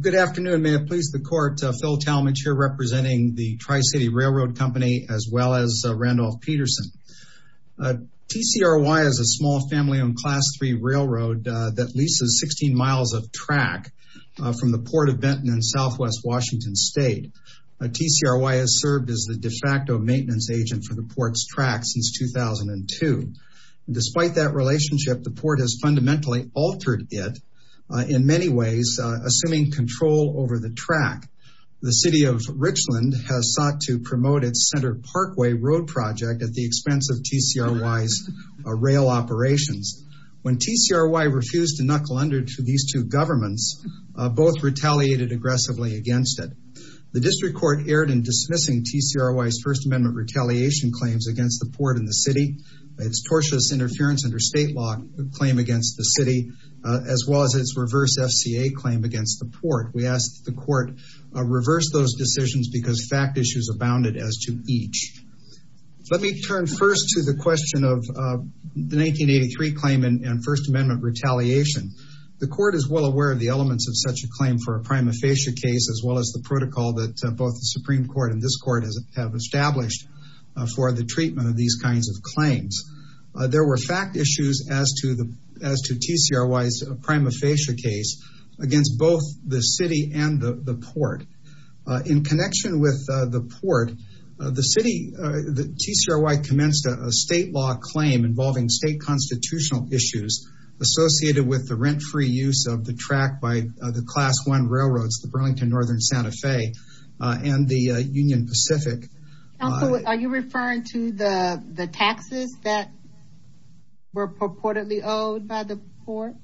Good afternoon. May it please the court, Phil Talmadge here representing the Tri-City Railroad Company as well as Randolph Peterson. TCRY is a small family-owned class 3 railroad that leases 16 miles of track from the Port of Benton in southwest Washington State. TCRY has served as the de facto maintenance agent for the port's track since 2002. Despite that relationship, the port has fundamentally altered it in many ways, assuming control over the track. The City of Richland has sought to promote its Center Parkway road project at the expense of TCRY's rail operations. When TCRY refused to knuckle under to these two governments, both retaliated aggressively against it. The District Court erred in dismissing TCRY's First Amendment retaliation claims against the port and the city, its tortious interference under state law claim against the city, as well as its reverse FCA claim against the port. We ask that the court reverse those decisions because fact issues abounded as to each. Let me turn first to the question of the 1983 claim and First Amendment retaliation. The court is well aware of the elements of such a claim for a prima facie case, as well as the protocol that both the Supreme Court and this court have established for the treatment of these kinds of claims. There were fact issues as to TCRY's prima facie case against both the city and the port. In connection with the port, the TCRY commenced a state law claim involving state constitutional issues associated with the rent-free use of the track by the Class 1 railroads, the Burlington Northern Santa Fe and the Union Pacific. Are you referring to the taxes that were purportedly owed by the port?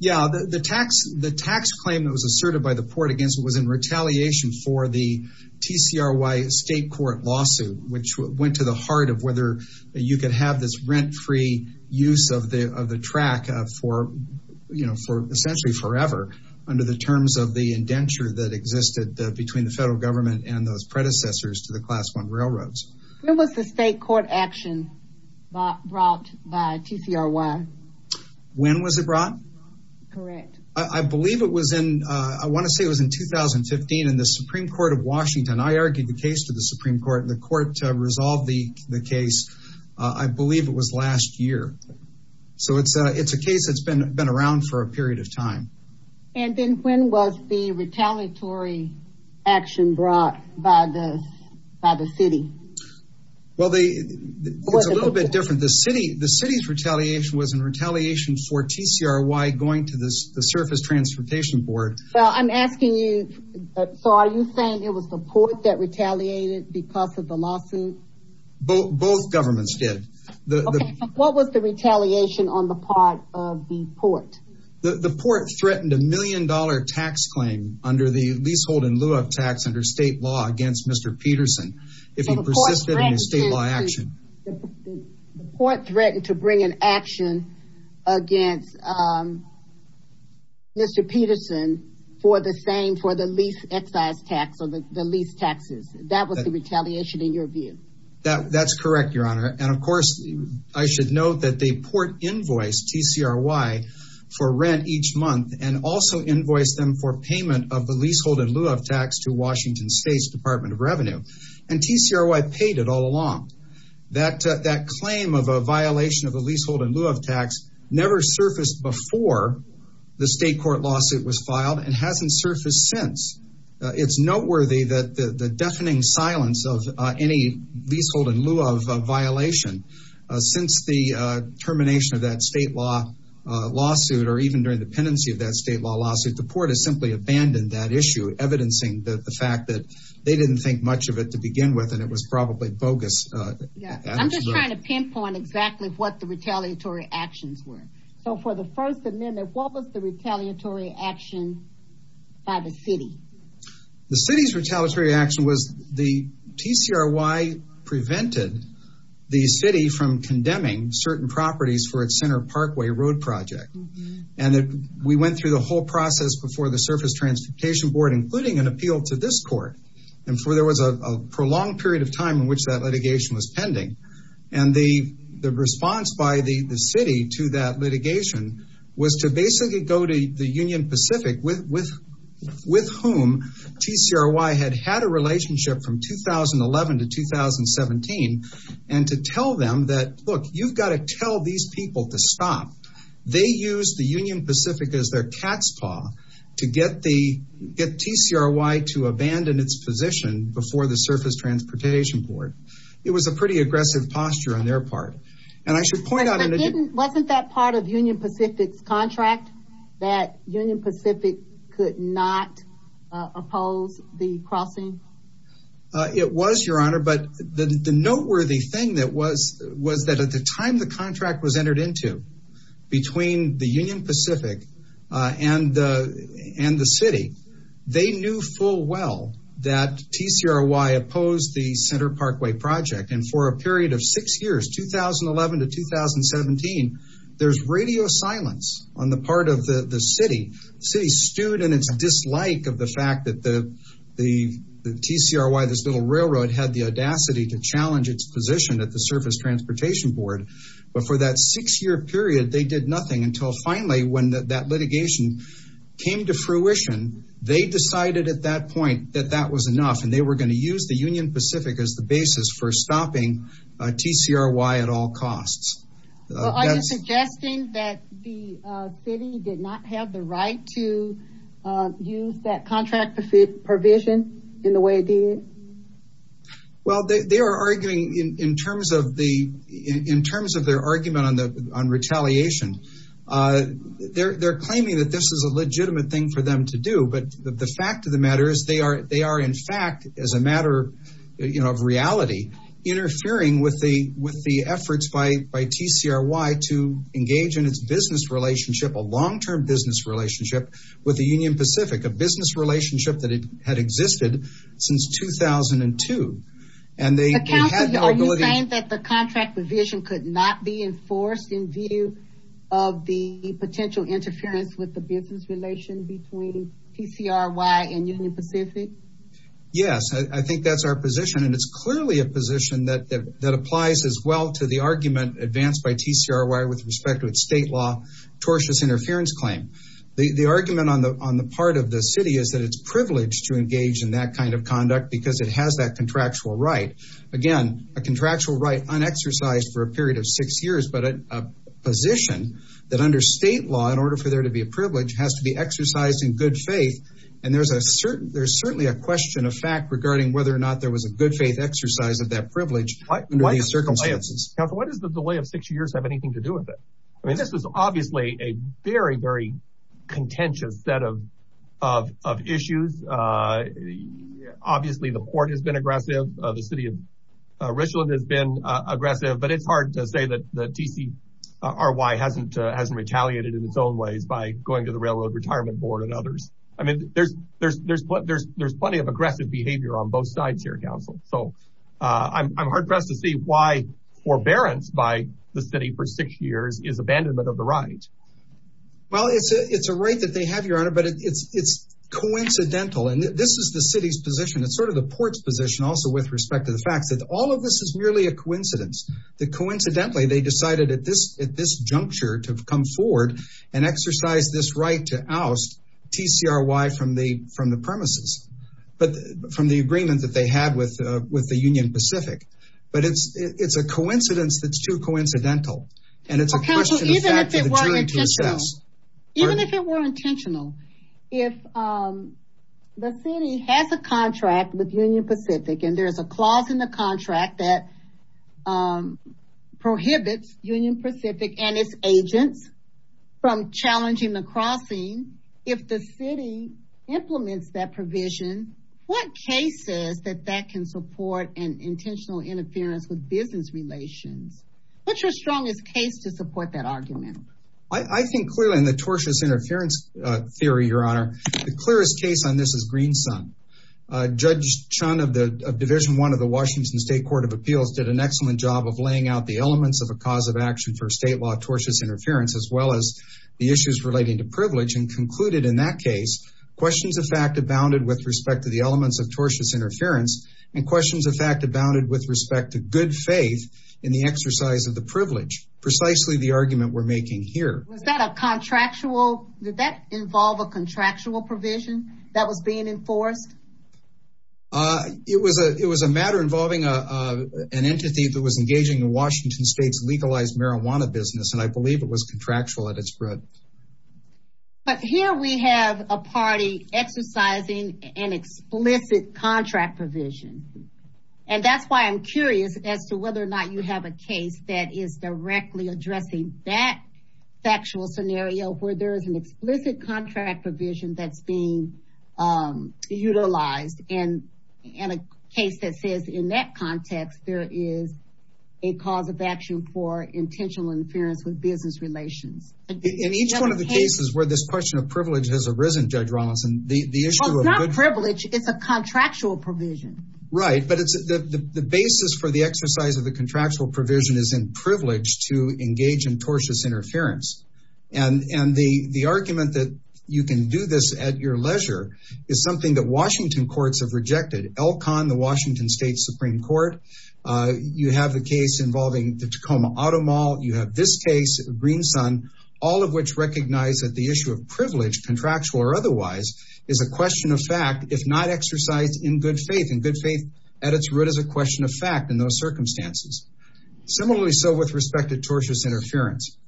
Yeah, the tax claim that was asserted by the port against it was in retaliation for the TCRY state court lawsuit, which went to the heart of whether you could have this rent-free use of the track for essentially forever under the terms of the indenture that existed between the federal government and those predecessors to the Class 1 railroads. When was the state court action brought by TCRY? When was it brought? Correct. I believe it was in, I want to say it was in 2015 in the Supreme Court of Washington. I argued the case to the Supreme Court and the court resolved the case, I believe it was last year. So it's a case that's been around for a period of time. And then when was the retaliatory action brought by the city? Well, it's a little bit different. The city's retaliation was in retaliation for TCRY going to the Surface Transportation Board. So I'm asking you, so are you saying it was the port that retaliated because of the lawsuit? Both governments did. What was the retaliation on the part of the port? The port threatened a million dollar tax claim under the leasehold in lieu of tax under state law against Mr. Peterson. If he persisted in his state law action. The port threatened to bring an action against Mr. Peterson for the same, for the lease excise tax or the lease taxes. That was the retaliation in your view? That's correct, Your Honor. And of course, I should note that the port invoiced TCRY for rent each month and also invoiced them for payment of the leasehold in lieu of tax to Washington State's Department of Revenue. And TCRY paid it all along. That claim of a violation of the leasehold in lieu of tax never surfaced before the state court lawsuit was filed and hasn't surfaced since. It's noteworthy that the deafening silence of any leasehold in lieu of violation since the termination of that state law lawsuit or even during the pendency of that state law lawsuit, the port has simply abandoned that issue. Evidencing the fact that they didn't think much of it to begin with and it was probably bogus. I'm just trying to pinpoint exactly what the retaliatory actions were. So for the first amendment, what was the retaliatory action by the city? The city's retaliatory action was the TCRY prevented the city from condemning certain properties for its Center Parkway road project. And we went through the whole process before the Surface Transportation Board, including an appeal to this court. And so there was a prolonged period of time in which that litigation was pending. And the response by the city to that litigation was to basically go to the Union Pacific with whom TCRY had had a relationship from 2011 to 2017. And to tell them that, look, you've got to tell these people to stop. They used the Union Pacific as their cat's paw to get TCRY to abandon its position before the Surface Transportation Board. It was a pretty aggressive posture on their part. And I should point out... Wasn't that part of Union Pacific's contract that Union Pacific could not oppose the crossing? It was, Your Honor, but the noteworthy thing was that at the time the contract was entered into between the Union Pacific and the city, they knew full well that TCRY opposed the Center Parkway project. And for a period of six years, 2011 to 2017, there's radio silence on the part of the city. The city stood in its dislike of the fact that the TCRY, this little railroad, had the audacity to challenge its position at the Surface Transportation Board. But for that six-year period, they did nothing until finally when that litigation came to fruition, they decided at that point that that was enough. And they were going to use the Union Pacific as the basis for stopping TCRY at all costs. Are you suggesting that the city did not have the right to use that contract provision in the way it did? Well, they are arguing in terms of their argument on retaliation. They're claiming that this is a legitimate thing for them to do. But the fact of the matter is they are, in fact, as a matter of reality, interfering with the efforts by TCRY to engage in its business relationship, a long-term business relationship with the Union Pacific, a business relationship that had existed since 2002. And they had the ability... Are you saying that the contract provision could not be enforced in view of the potential interference with the business relation between TCRY and Union Pacific? Yes, I think that's our position, and it's clearly a position that applies as well to the argument advanced by TCRY with respect to its state law tortious interference claim. The argument on the part of the city is that it's privileged to engage in that kind of conduct because it has that contractual right. Again, a contractual right unexercised for a period of six years, but a position that under state law, in order for there to be a privilege, has to be exercised in good faith. And there's certainly a question of fact regarding whether or not there was a good faith exercise of that privilege under these circumstances. What does the delay of six years have anything to do with it? I mean, this is obviously a very, very contentious set of issues. Obviously, the court has been aggressive. The city of Richland has been aggressive. But it's hard to say that TCRY hasn't retaliated in its own ways by going to the Railroad Retirement Board and others. I mean, there's plenty of aggressive behavior on both sides here, counsel. So I'm hard-pressed to see why forbearance by the city for six years is abandonment of the right. Well, it's a right that they have, Your Honor, but it's coincidental. And this is the city's position. It's sort of the court's position also with respect to the fact that all of this is merely a coincidence, that coincidentally they decided at this juncture to come forward and exercise this right to oust TCRY. TCRY from the premises, but from the agreement that they had with the Union Pacific. But it's a coincidence that's too coincidental. And it's a question of fact that they're trying to assess. Even if it were intentional, if the city has a contract with Union Pacific and there is a clause in the contract that prohibits Union Pacific and its agents from challenging the crossing, if the city implements that provision, what cases that that can support an intentional interference with business relations? What's your strongest case to support that argument? I think clearly in the tortious interference theory, Your Honor, the clearest case on this is Green Sun. Judge Chun of the Division One of the Washington State Court of Appeals did an excellent job of laying out the elements of a cause of action for state law tortious interference, as well as the issues relating to privilege and concluded in that case. Questions of fact abounded with respect to the elements of tortious interference and questions of fact abounded with respect to good faith in the exercise of the privilege. Precisely the argument we're making here. Was that a contractual? Did that involve a contractual provision that was being enforced? It was a it was a matter involving an entity that was engaging in Washington State's legalized marijuana business, and I believe it was contractual at its root. But here we have a party exercising an explicit contract provision. And that's why I'm curious as to whether or not you have a case that is directly addressing that factual scenario where there is an explicit contract provision that's being utilized. And in a case that says in that context, there is a cause of action for intentional interference with business relations. In each one of the cases where this question of privilege has arisen, Judge Rawlinson, the issue of privilege is a contractual provision, right? But it's the basis for the exercise of the contractual provision is in privilege to engage in tortious interference. And the argument that you can do this at your leisure is something that Washington courts have rejected. Elkhon, the Washington State Supreme Court. You have the case involving the Tacoma Auto Mall. You have this case, Green Sun, all of which recognize that the issue of privilege, contractual or otherwise, is a question of fact, if not exercised in good faith. And good faith at its root is a question of fact in those circumstances. Similarly so with respect to tortious interference.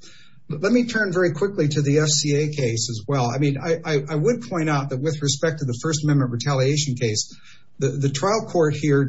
Let me turn very quickly to the FCA case as well. I mean, I would point out that with respect to the First Amendment retaliation case, the trial court here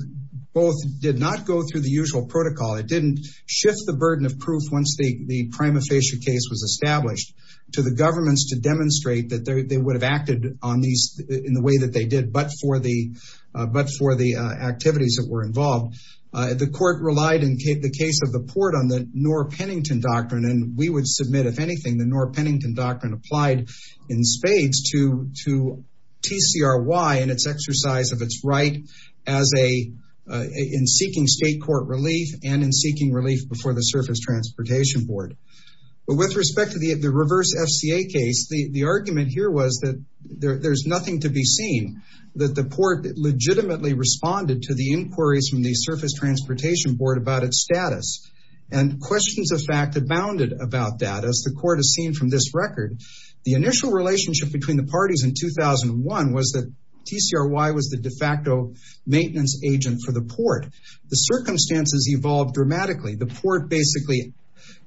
both did not go through the usual protocol. It didn't shift the burden of proof once the prima facie case was established to the governments to demonstrate that they would have acted on these in the way that they did, but for the activities that were involved. The court relied in the case of the port on the Knorr-Pennington Doctrine. And we would submit, if anything, the Knorr-Pennington Doctrine applied in spades to TCRY and its exercise of its right in seeking state court relief and in seeking relief before the Surface Transportation Board. But with respect to the reverse FCA case, the argument here was that there's nothing to be seen, that the port legitimately responded to the inquiries from the Surface Transportation Board about its status. And questions of fact abounded about that as the court has seen from this record. The initial relationship between the parties in 2001 was that TCRY was the de facto maintenance agent for the port. The circumstances evolved dramatically. The port basically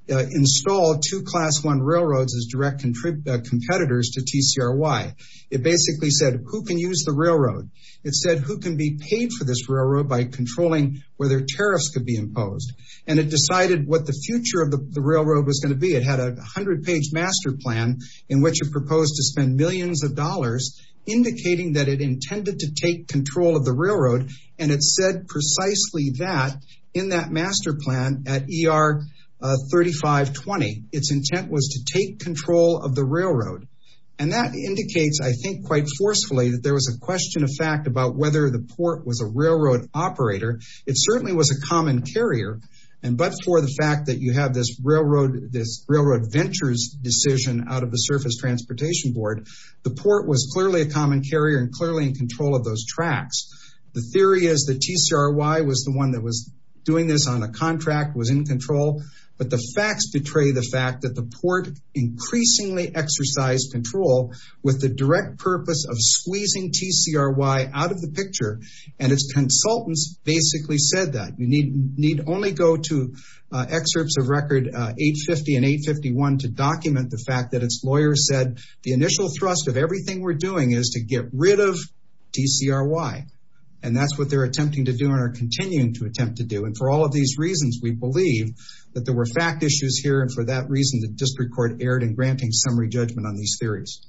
installed two Class I railroads as direct competitors to TCRY. It basically said, who can use the railroad? It said, who can be paid for this railroad by controlling whether tariffs could be imposed? And it decided what the future of the railroad was going to be. It had a 100-page master plan in which it proposed to spend millions of dollars indicating that it intended to take control of the railroad. And it said precisely that in that master plan at ER 3520. Its intent was to take control of the railroad. And that indicates, I think, quite forcefully that there was a question of fact about whether the port was a railroad operator. It certainly was a common carrier. And but for the fact that you have this railroad ventures decision out of the Surface Transportation Board, the port was clearly a common carrier and clearly in control of those tracks. The theory is that TCRY was the one that was doing this on a contract, was in control. But the facts betray the fact that the port increasingly exercised control with the direct purpose of squeezing TCRY out of the picture. And its consultants basically said that. You need only go to excerpts of record 850 and 851 to document the fact that its lawyers said the initial thrust of everything we're doing is to get rid of TCRY. And that's what they're attempting to do and are continuing to attempt to do. And for all of these reasons, we believe that there were fact issues here. And for that reason, the district court erred in granting summary judgment on these theories.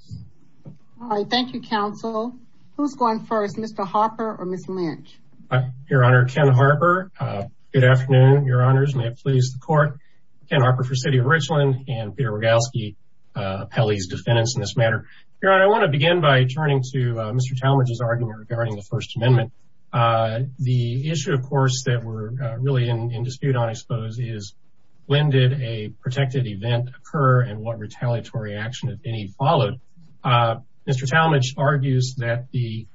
All right, thank you, counsel. Who's going first, Mr. Harper or Ms. Lynch? Your Honor, Ken Harper. Good afternoon, Your Honors. May it please the court. Ken Harper for City of Richland and Peter Rogalski, Pele's defendants in this matter. Your Honor, I want to begin by turning to Mr. Talmadge's argument regarding the First Amendment. The issue, of course, that we're really in dispute on, I suppose, is when did a protected event occur and what retaliatory action, if any, followed? Mr. Talmadge argues that the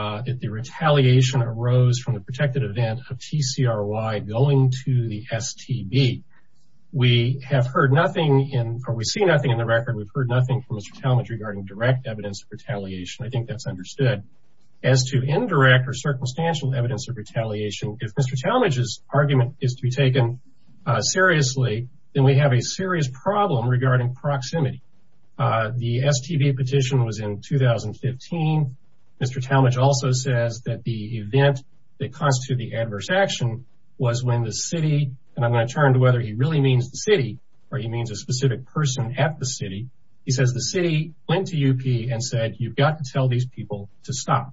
retaliation arose from the protected event of TCRY going to the STB. We have heard nothing or we see nothing in the record. We've heard nothing from Mr. Talmadge regarding direct evidence of retaliation. I think that's understood. As to indirect or circumstantial evidence of retaliation, if Mr. Talmadge's argument is to be taken seriously, then we have a serious problem regarding proximity. The STB petition was in 2015. Mr. Talmadge also says that the event that constituted the adverse action was when the city, and I'm going to turn to whether he really means the city or he means a specific person at the city. He says the city went to UP and said, you've got to tell these people to stop.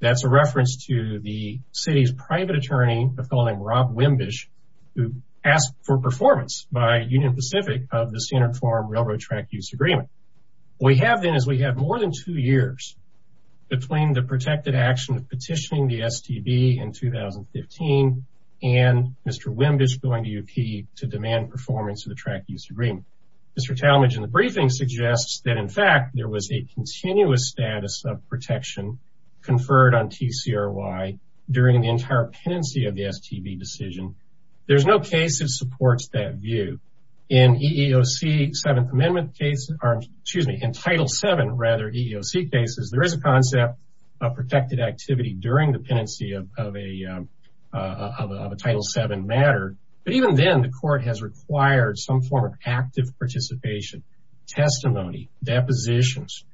That's a reference to the city's private attorney, a fellow named Rob Wimbish, who asked for performance by Union Pacific of the Standard Form Railroad Track Use Agreement. What we have then is we have more than two years between the protected action of petitioning the STB in 2015 and Mr. Wimbish going to UP to demand performance of the track use agreement. Mr. Talmadge in the briefing suggests that, in fact, there was a continuous status of protection conferred on TCRY during the entire pendency of the STB decision. There's no case that supports that view. In EEOC Seventh Amendment cases, or excuse me, in Title VII, rather, EEOC cases, there is a concept of protected activity during the pendency of a Title VII matter. But even then, the court has required some form of active participation, testimony, depositions,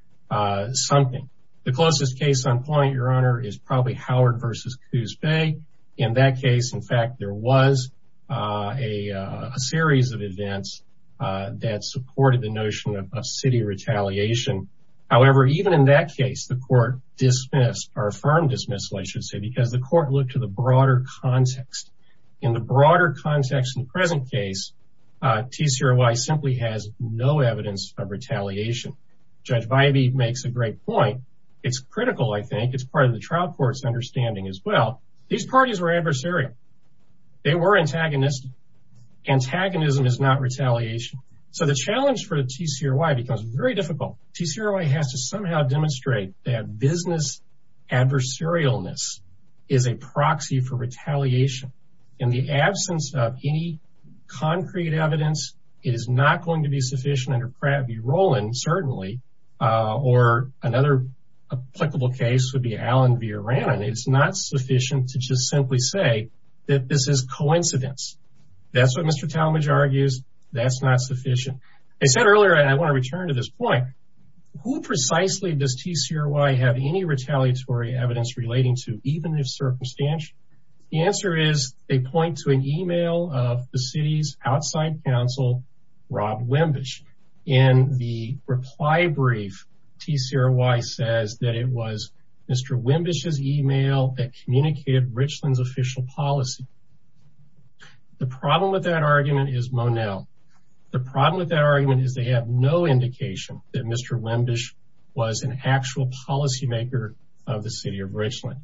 something. The closest case on point, Your Honor, is probably Howard v. Coos Bay. In that case, in fact, there was a series of events that supported the notion of city retaliation. However, even in that case, the court dismissed or affirmed dismissal, I should say, because the court looked to the broader context. In the broader context in the present case, TCRY simply has no evidence of retaliation. Judge Vibey makes a great point. It's critical, I think. It's part of the trial court's understanding as well. These parties were adversarial. They were antagonistic. Antagonism is not retaliation. So the challenge for TCRY becomes very difficult. TCRY has to somehow demonstrate that business adversarialness is a proxy for retaliation. In the absence of any concrete evidence, it is not going to be sufficient under Pratt v. Roland, certainly. Or another applicable case would be Allen v. Rannan. It's not sufficient to just simply say that this is coincidence. That's what Mr. Talmadge argues. That's not sufficient. I said earlier, and I want to return to this point, who precisely does TCRY have any retaliatory evidence relating to, even if circumstantial? The answer is they point to an email of the city's outside counsel, Rob Wimbish. In the reply brief, TCRY says that it was Mr. Wimbish's email that communicated Richland's official policy. The problem with that argument is Monell. The problem with that argument is they have no indication that Mr. Wimbish was an actual policymaker of the city of Richland.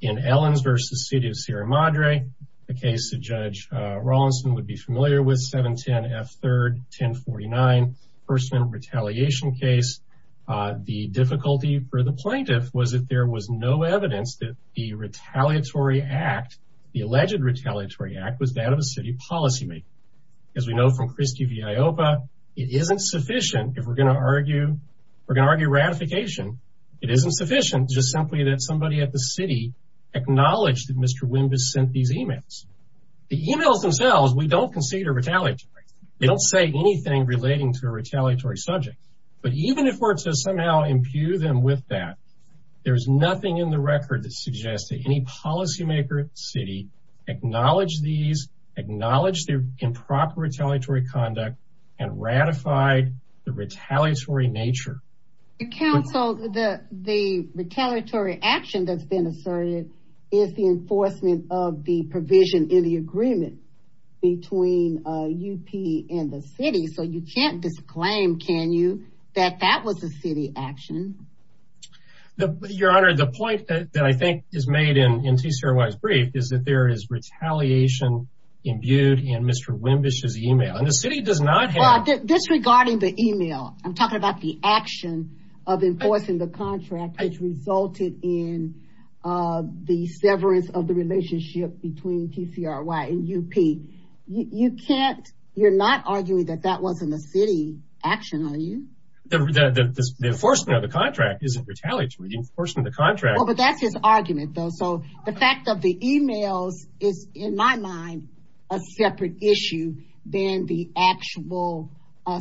In Ellens v. City of Sierra Madre, a case that Judge Rawlinson would be familiar with, 710 F. 3rd, 1049, first-minute retaliation case. The difficulty for the plaintiff was that there was no evidence that the retaliatory act, the alleged retaliatory act, was that of a city policymaker. As we know from Christie v. IOPA, it isn't sufficient, if we're going to argue ratification, it isn't sufficient just simply that somebody at the city acknowledged that Mr. Wimbish sent these emails. The emails themselves, we don't consider retaliatory. They don't say anything relating to a retaliatory subject. But even if we're to somehow impugn them with that, there's nothing in the record that suggests that any policymaker at the city acknowledged these, acknowledged their improper retaliatory conduct, and ratified the retaliatory nature. Your counsel, the retaliatory action that's been asserted is the enforcement of the provision in the agreement between UP and the city. So you can't disclaim, can you, that that was a city action? Your Honor, the point that I think is made in T. Sierra White's brief is that there is retaliation imbued in Mr. Wimbish's email. Disregarding the email, I'm talking about the action of enforcing the contract which resulted in the severance of the relationship between T. Sierra White and UP. You're not arguing that that wasn't a city action, are you? The enforcement of the contract isn't retaliatory. Well, but that's his argument, though. So the fact of the emails is, in my mind, a separate issue than the actual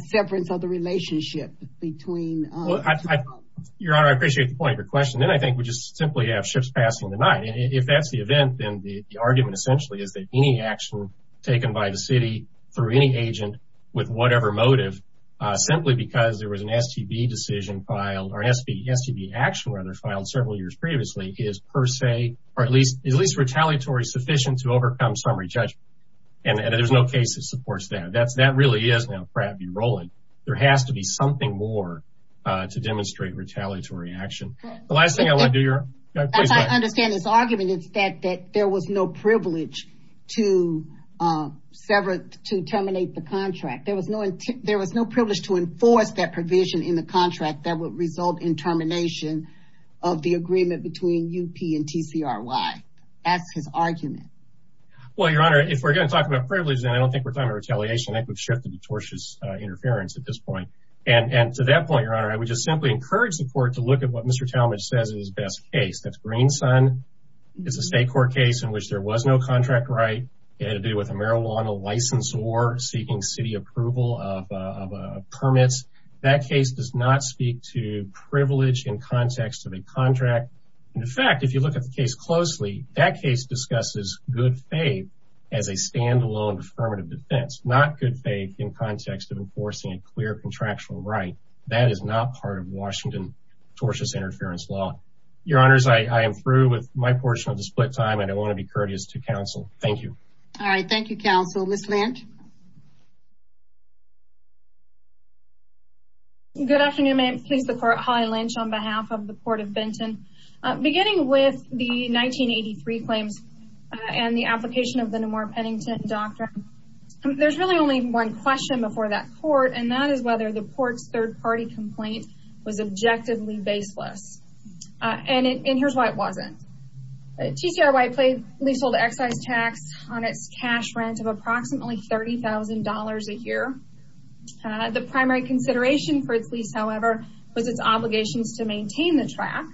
severance of the relationship between T. Sierra White and UP. Your Honor, I appreciate the point of your question. Then I think we just simply have ships passing the night. If that's the event, then the argument essentially is that any action taken by the city through any agent with whatever motive, simply because there was an STB decision filed or an STB action filed several years previously, is per se or at least retaliatory sufficient to overcome summary judgment. And there's no case that supports that. That really is now crabby rolling. There has to be something more to demonstrate retaliatory action. The last thing I want to do, Your Honor. I understand this argument is that there was no privilege to sever to terminate the contract. There was no there was no privilege to enforce that provision in the contract that would result in termination of the agreement between UP and T. Sierra White. That's his argument. Well, Your Honor, if we're going to talk about privilege, then I don't think we're going to retaliation. I think we've shifted to tortious interference at this point. And to that point, Your Honor, I would just simply encourage the court to look at what Mr. Talmadge says is best case. That's Greenson. It's a state court case in which there was no contract right. It had to do with a marijuana license or seeking city approval of permits. That case does not speak to privilege in context of a contract. In fact, if you look at the case closely, that case discusses good faith as a standalone affirmative defense, not good faith in context of enforcing a clear contractual right. That is not part of Washington tortious interference law. Your Honor, I am through with my portion of the split time. I don't want to be courteous to counsel. Thank you. All right. Thank you, counsel. Ms. Lent. Good afternoon, ma'am. Please. The court. Hi, Lynch. On behalf of the court of Benton. Beginning with the 1983 claims and the application of the more Pennington doctrine. There's really only one question before that court. And that is whether the port's third party complaint was objectively baseless. And here's why it wasn't. TCR white plate leasehold excise tax on its cash rent of approximately $30,000 a year. The primary consideration for its lease, however, was its obligations to maintain the track.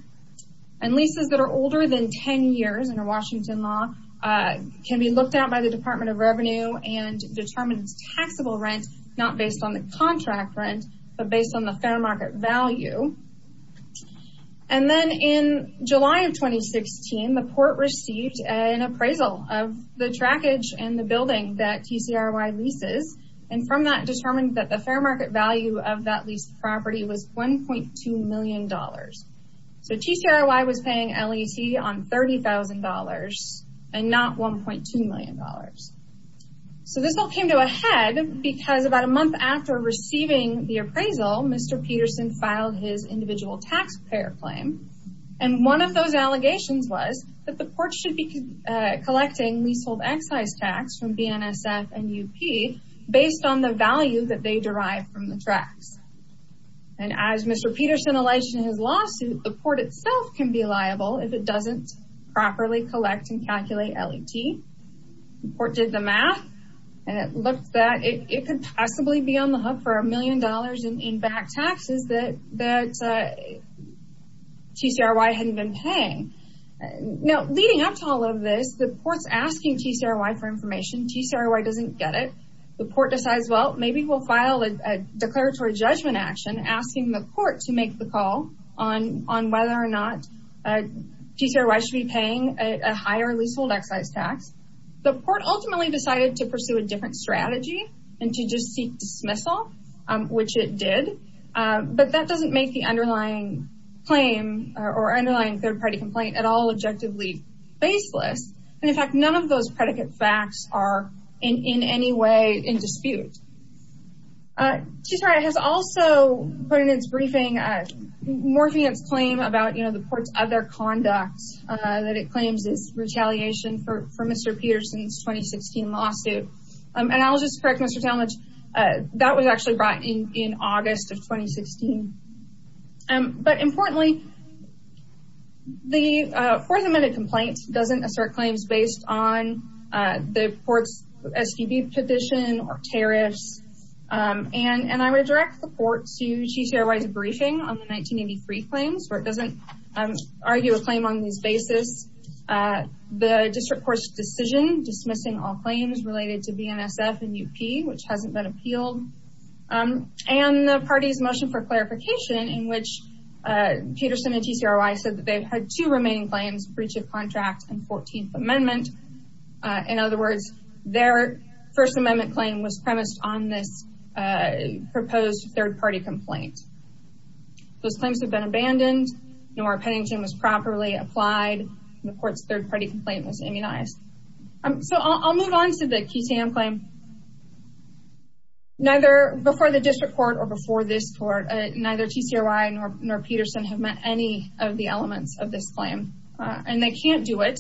And leases that are older than 10 years in a Washington law can be looked out by the Department of Revenue and determines taxable rent. Not based on the contract rent, but based on the fair market value. And then in July of 2016, the port received an appraisal of the trackage and the building that TCR wide leases. And from that determined that the fair market value of that lease property was $1.2 million. So, TCRY was paying LEC on $30,000 and not $1.2 million. So, this all came to a head because about a month after receiving the appraisal, Mr. Peterson filed his individual tax payer claim. And one of those allegations was that the port should be collecting leasehold excise tax from BNSF and UP based on the value that they derived from the tracks. And as Mr. Peterson alleged in his lawsuit, the port itself can be liable if it doesn't properly collect and calculate LET. The port did the math and it looked that it could possibly be on the hook for a million dollars in back taxes that TCRY hadn't been paying. Now, leading up to all of this, the port's asking TCRY for information. TCRY doesn't get it. The port decides, well, maybe we'll file a declaratory judgment action asking the court to make the call on whether or not TCRY should be paying a higher leasehold excise tax. The port ultimately decided to pursue a different strategy and to just seek dismissal, which it did. But that doesn't make the underlying claim or underlying third party complaint at all objectively baseless. And in fact, none of those predicate facts are in any way in dispute. TCRY has also put in its briefing, morphing its claim about, you know, the port's other conduct that it claims is retaliation for Mr. Peterson's 2016 lawsuit. And I'll just correct Mr. Talmadge, that was actually brought in in August of 2016. But importantly, the fourth amendment complaint doesn't assert claims based on the port's SBB petition or tariffs. And I would direct the port to TCRY's briefing on the 1983 claims, where it doesn't argue a claim on these basis. The district court's decision dismissing all claims related to BNSF and UP, which hasn't been appealed. And the party's motion for clarification, in which Peterson and TCRY said that they've had two remaining claims, breach of contract and 14th amendment. In other words, their first amendment claim was premised on this proposed third party complaint. Those claims have been abandoned. Nora Pennington was properly applied. The court's third party complaint was immunized. So I'll move on to the QTAM claim. Before the district court or before this court, neither TCRY nor Peterson have met any of the elements of this claim. And they can't do it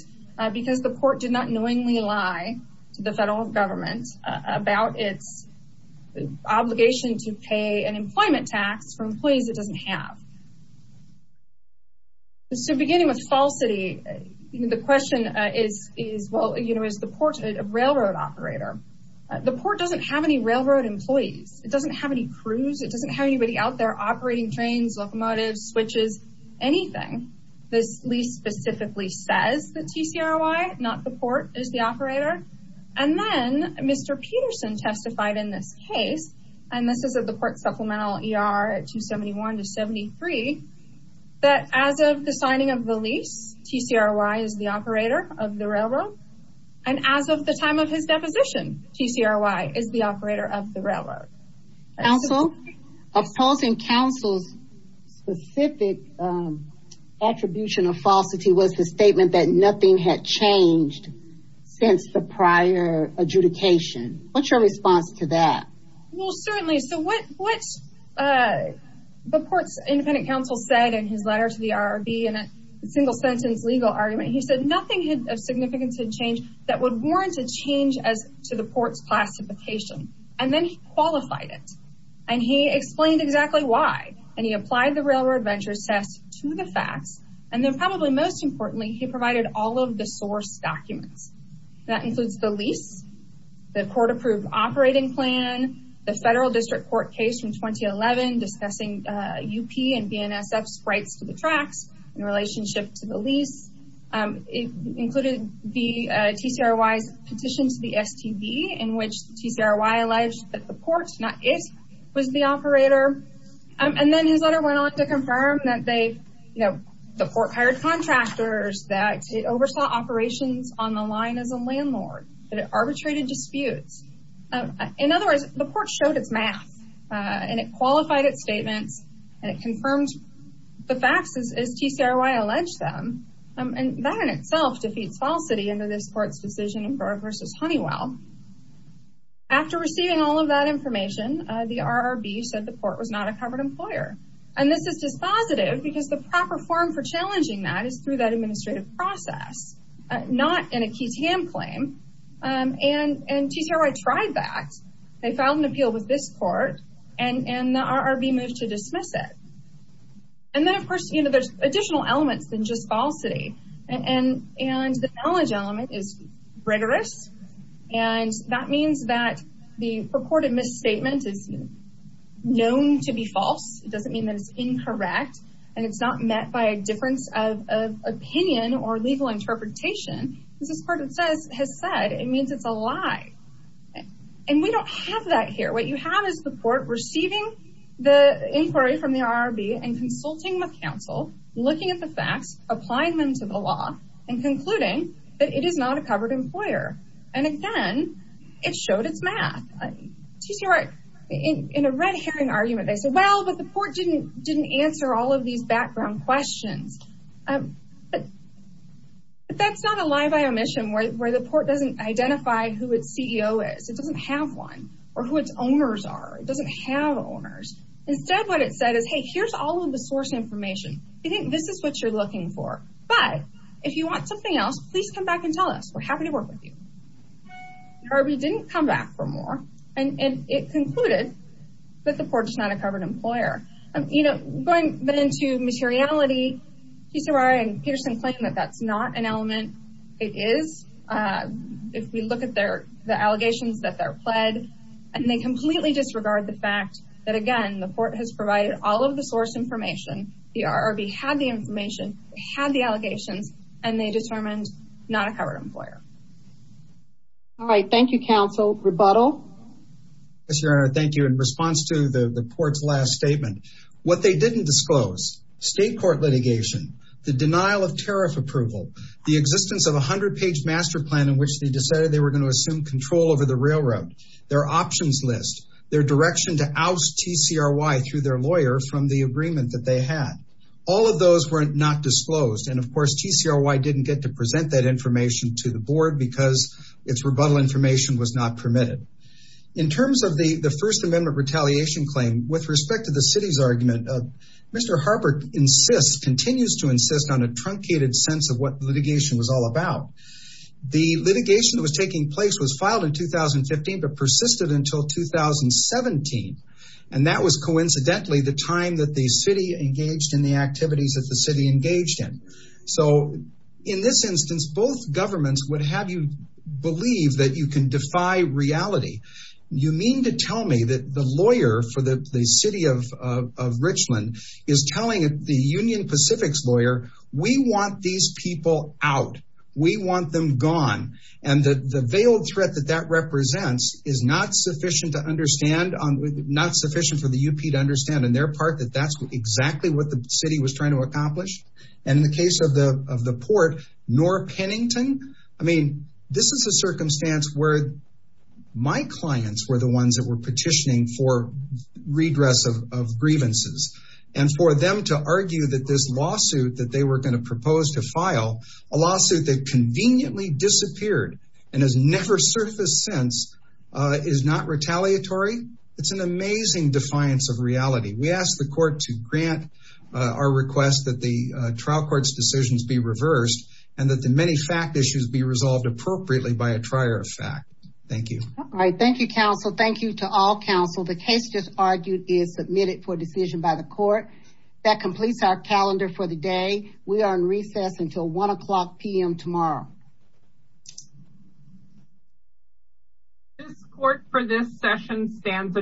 because the court did not knowingly lie to the federal government about its obligation to pay an employment tax for employees it doesn't have. So beginning with Fall City, the question is, well, you know, is the port a railroad operator? The port doesn't have any railroad employees. It doesn't have any crews. It doesn't have anybody out there operating trains, locomotives, switches, anything. This lease specifically says that TCRY, not the port, is the operator. And then Mr. Peterson testified in this case, and this is at the port supplemental ER 271 to 73, that as of the signing of the lease, TCRY is the operator of the railroad. And as of the time of his deposition, TCRY is the operator of the railroad. Counsel? Opposing counsel's specific attribution of falsity was the statement that nothing had changed since the prior adjudication. What's your response to that? Well, certainly. So what the port's independent counsel said in his letter to the IRB in a single-sentence legal argument, he said nothing of significance had changed that would warrant a change to the port's classification. And then he qualified it. And he explained exactly why. And he applied the railroad venture test to the facts. And then probably most importantly, he provided all of the source documents. That includes the lease, the court-approved operating plan, the federal district court case from 2011 discussing UP and BNSF's rights to the tracks in relationship to the lease. It included the TCRY's petition to the STB in which TCRY alleged that the port, not it, was the operator. And then his letter went on to confirm that they, you know, the port hired contractors, that it oversaw operations on the line as a landlord, that it arbitrated disputes. In other words, the port showed its math. And it qualified its statements. And it confirmed the facts as TCRY alleged them. And that in itself defeats falsity under this court's decision in Brewer v. Honeywell. After receiving all of that information, the IRB said the port was not a covered employer. And this is dispositive because the proper form for challenging that is through that administrative process, not in a key TAM claim. And TCRY tried that. They filed an appeal with this court. And the IRB moved to dismiss it. And then, of course, you know, there's additional elements than just falsity. And the knowledge element is rigorous. And that means that the purported misstatement is known to be false. It doesn't mean that it's incorrect. And it's not met by a difference of opinion or legal interpretation. Because this court has said it means it's a lie. And we don't have that here. What you have is the port receiving the inquiry from the IRB and consulting with counsel, looking at the facts, applying them to the law, and concluding that it is not a covered employer. And again, it showed its math. TCRY, in a red herring argument, they said, well, but the port didn't answer all of these background questions. But that's not a lie by omission where the port doesn't identify who its CEO is. It doesn't have one or who its owners are. It doesn't have owners. Instead, what it said is, hey, here's all of the source information. We think this is what you're looking for. But if you want something else, please come back and tell us. We're happy to work with you. The IRB didn't come back for more. And it concluded that the port is not a covered employer. You know, going into materiality, TCRY and Peterson claim that that's not an element. It is. If we look at the allegations that they're pled, and they completely disregard the fact that, again, the port has provided all of the source information. The IRB had the information, had the allegations, and they determined not a covered employer. All right. Thank you, counsel. Rebuttal? Yes, Your Honor. Thank you. In response to the port's last statement, what they didn't disclose, state court litigation, the denial of tariff approval, the existence of a 100-page master plan in which they decided they were going to assume control over the railroad, their options list, their direction to oust TCRY through their lawyer from the agreement that they had. All of those were not disclosed. And, of course, TCRY didn't get to present that information to the board because its rebuttal information was not permitted. In terms of the First Amendment retaliation claim, with respect to the city's argument, Mr. Harbert insists, continues to insist on a truncated sense of what litigation was all about. The litigation that was taking place was filed in 2015 but persisted until 2017. And that was coincidentally the time that the city engaged in the activities that the city engaged in. So, in this instance, both governments would have you believe that you can defy reality. You mean to tell me that the lawyer for the city of Richland is telling the Union Pacific's lawyer, we want these people out. We want them gone. And the veiled threat that that represents is not sufficient to understand, not sufficient for the UP to understand on their part that that's exactly what the city was trying to accomplish? And in the case of the port, nor Pennington? I mean, this is a circumstance where my clients were the ones that were petitioning for redress of grievances. And for them to argue that this lawsuit that they were going to propose to file, a lawsuit that conveniently disappeared and has never surfaced since, is not retaliatory? It's an amazing defiance of reality. We ask the court to grant our request that the trial court's decisions be reversed and that the many fact issues be resolved appropriately by a trier of fact. Thank you. All right. Thank you, counsel. Thank you to all counsel. The case just argued is submitted for decision by the court. That completes our calendar for the day. We are in recess until 1 o'clock p.m. tomorrow. This court for this session stands adjourned.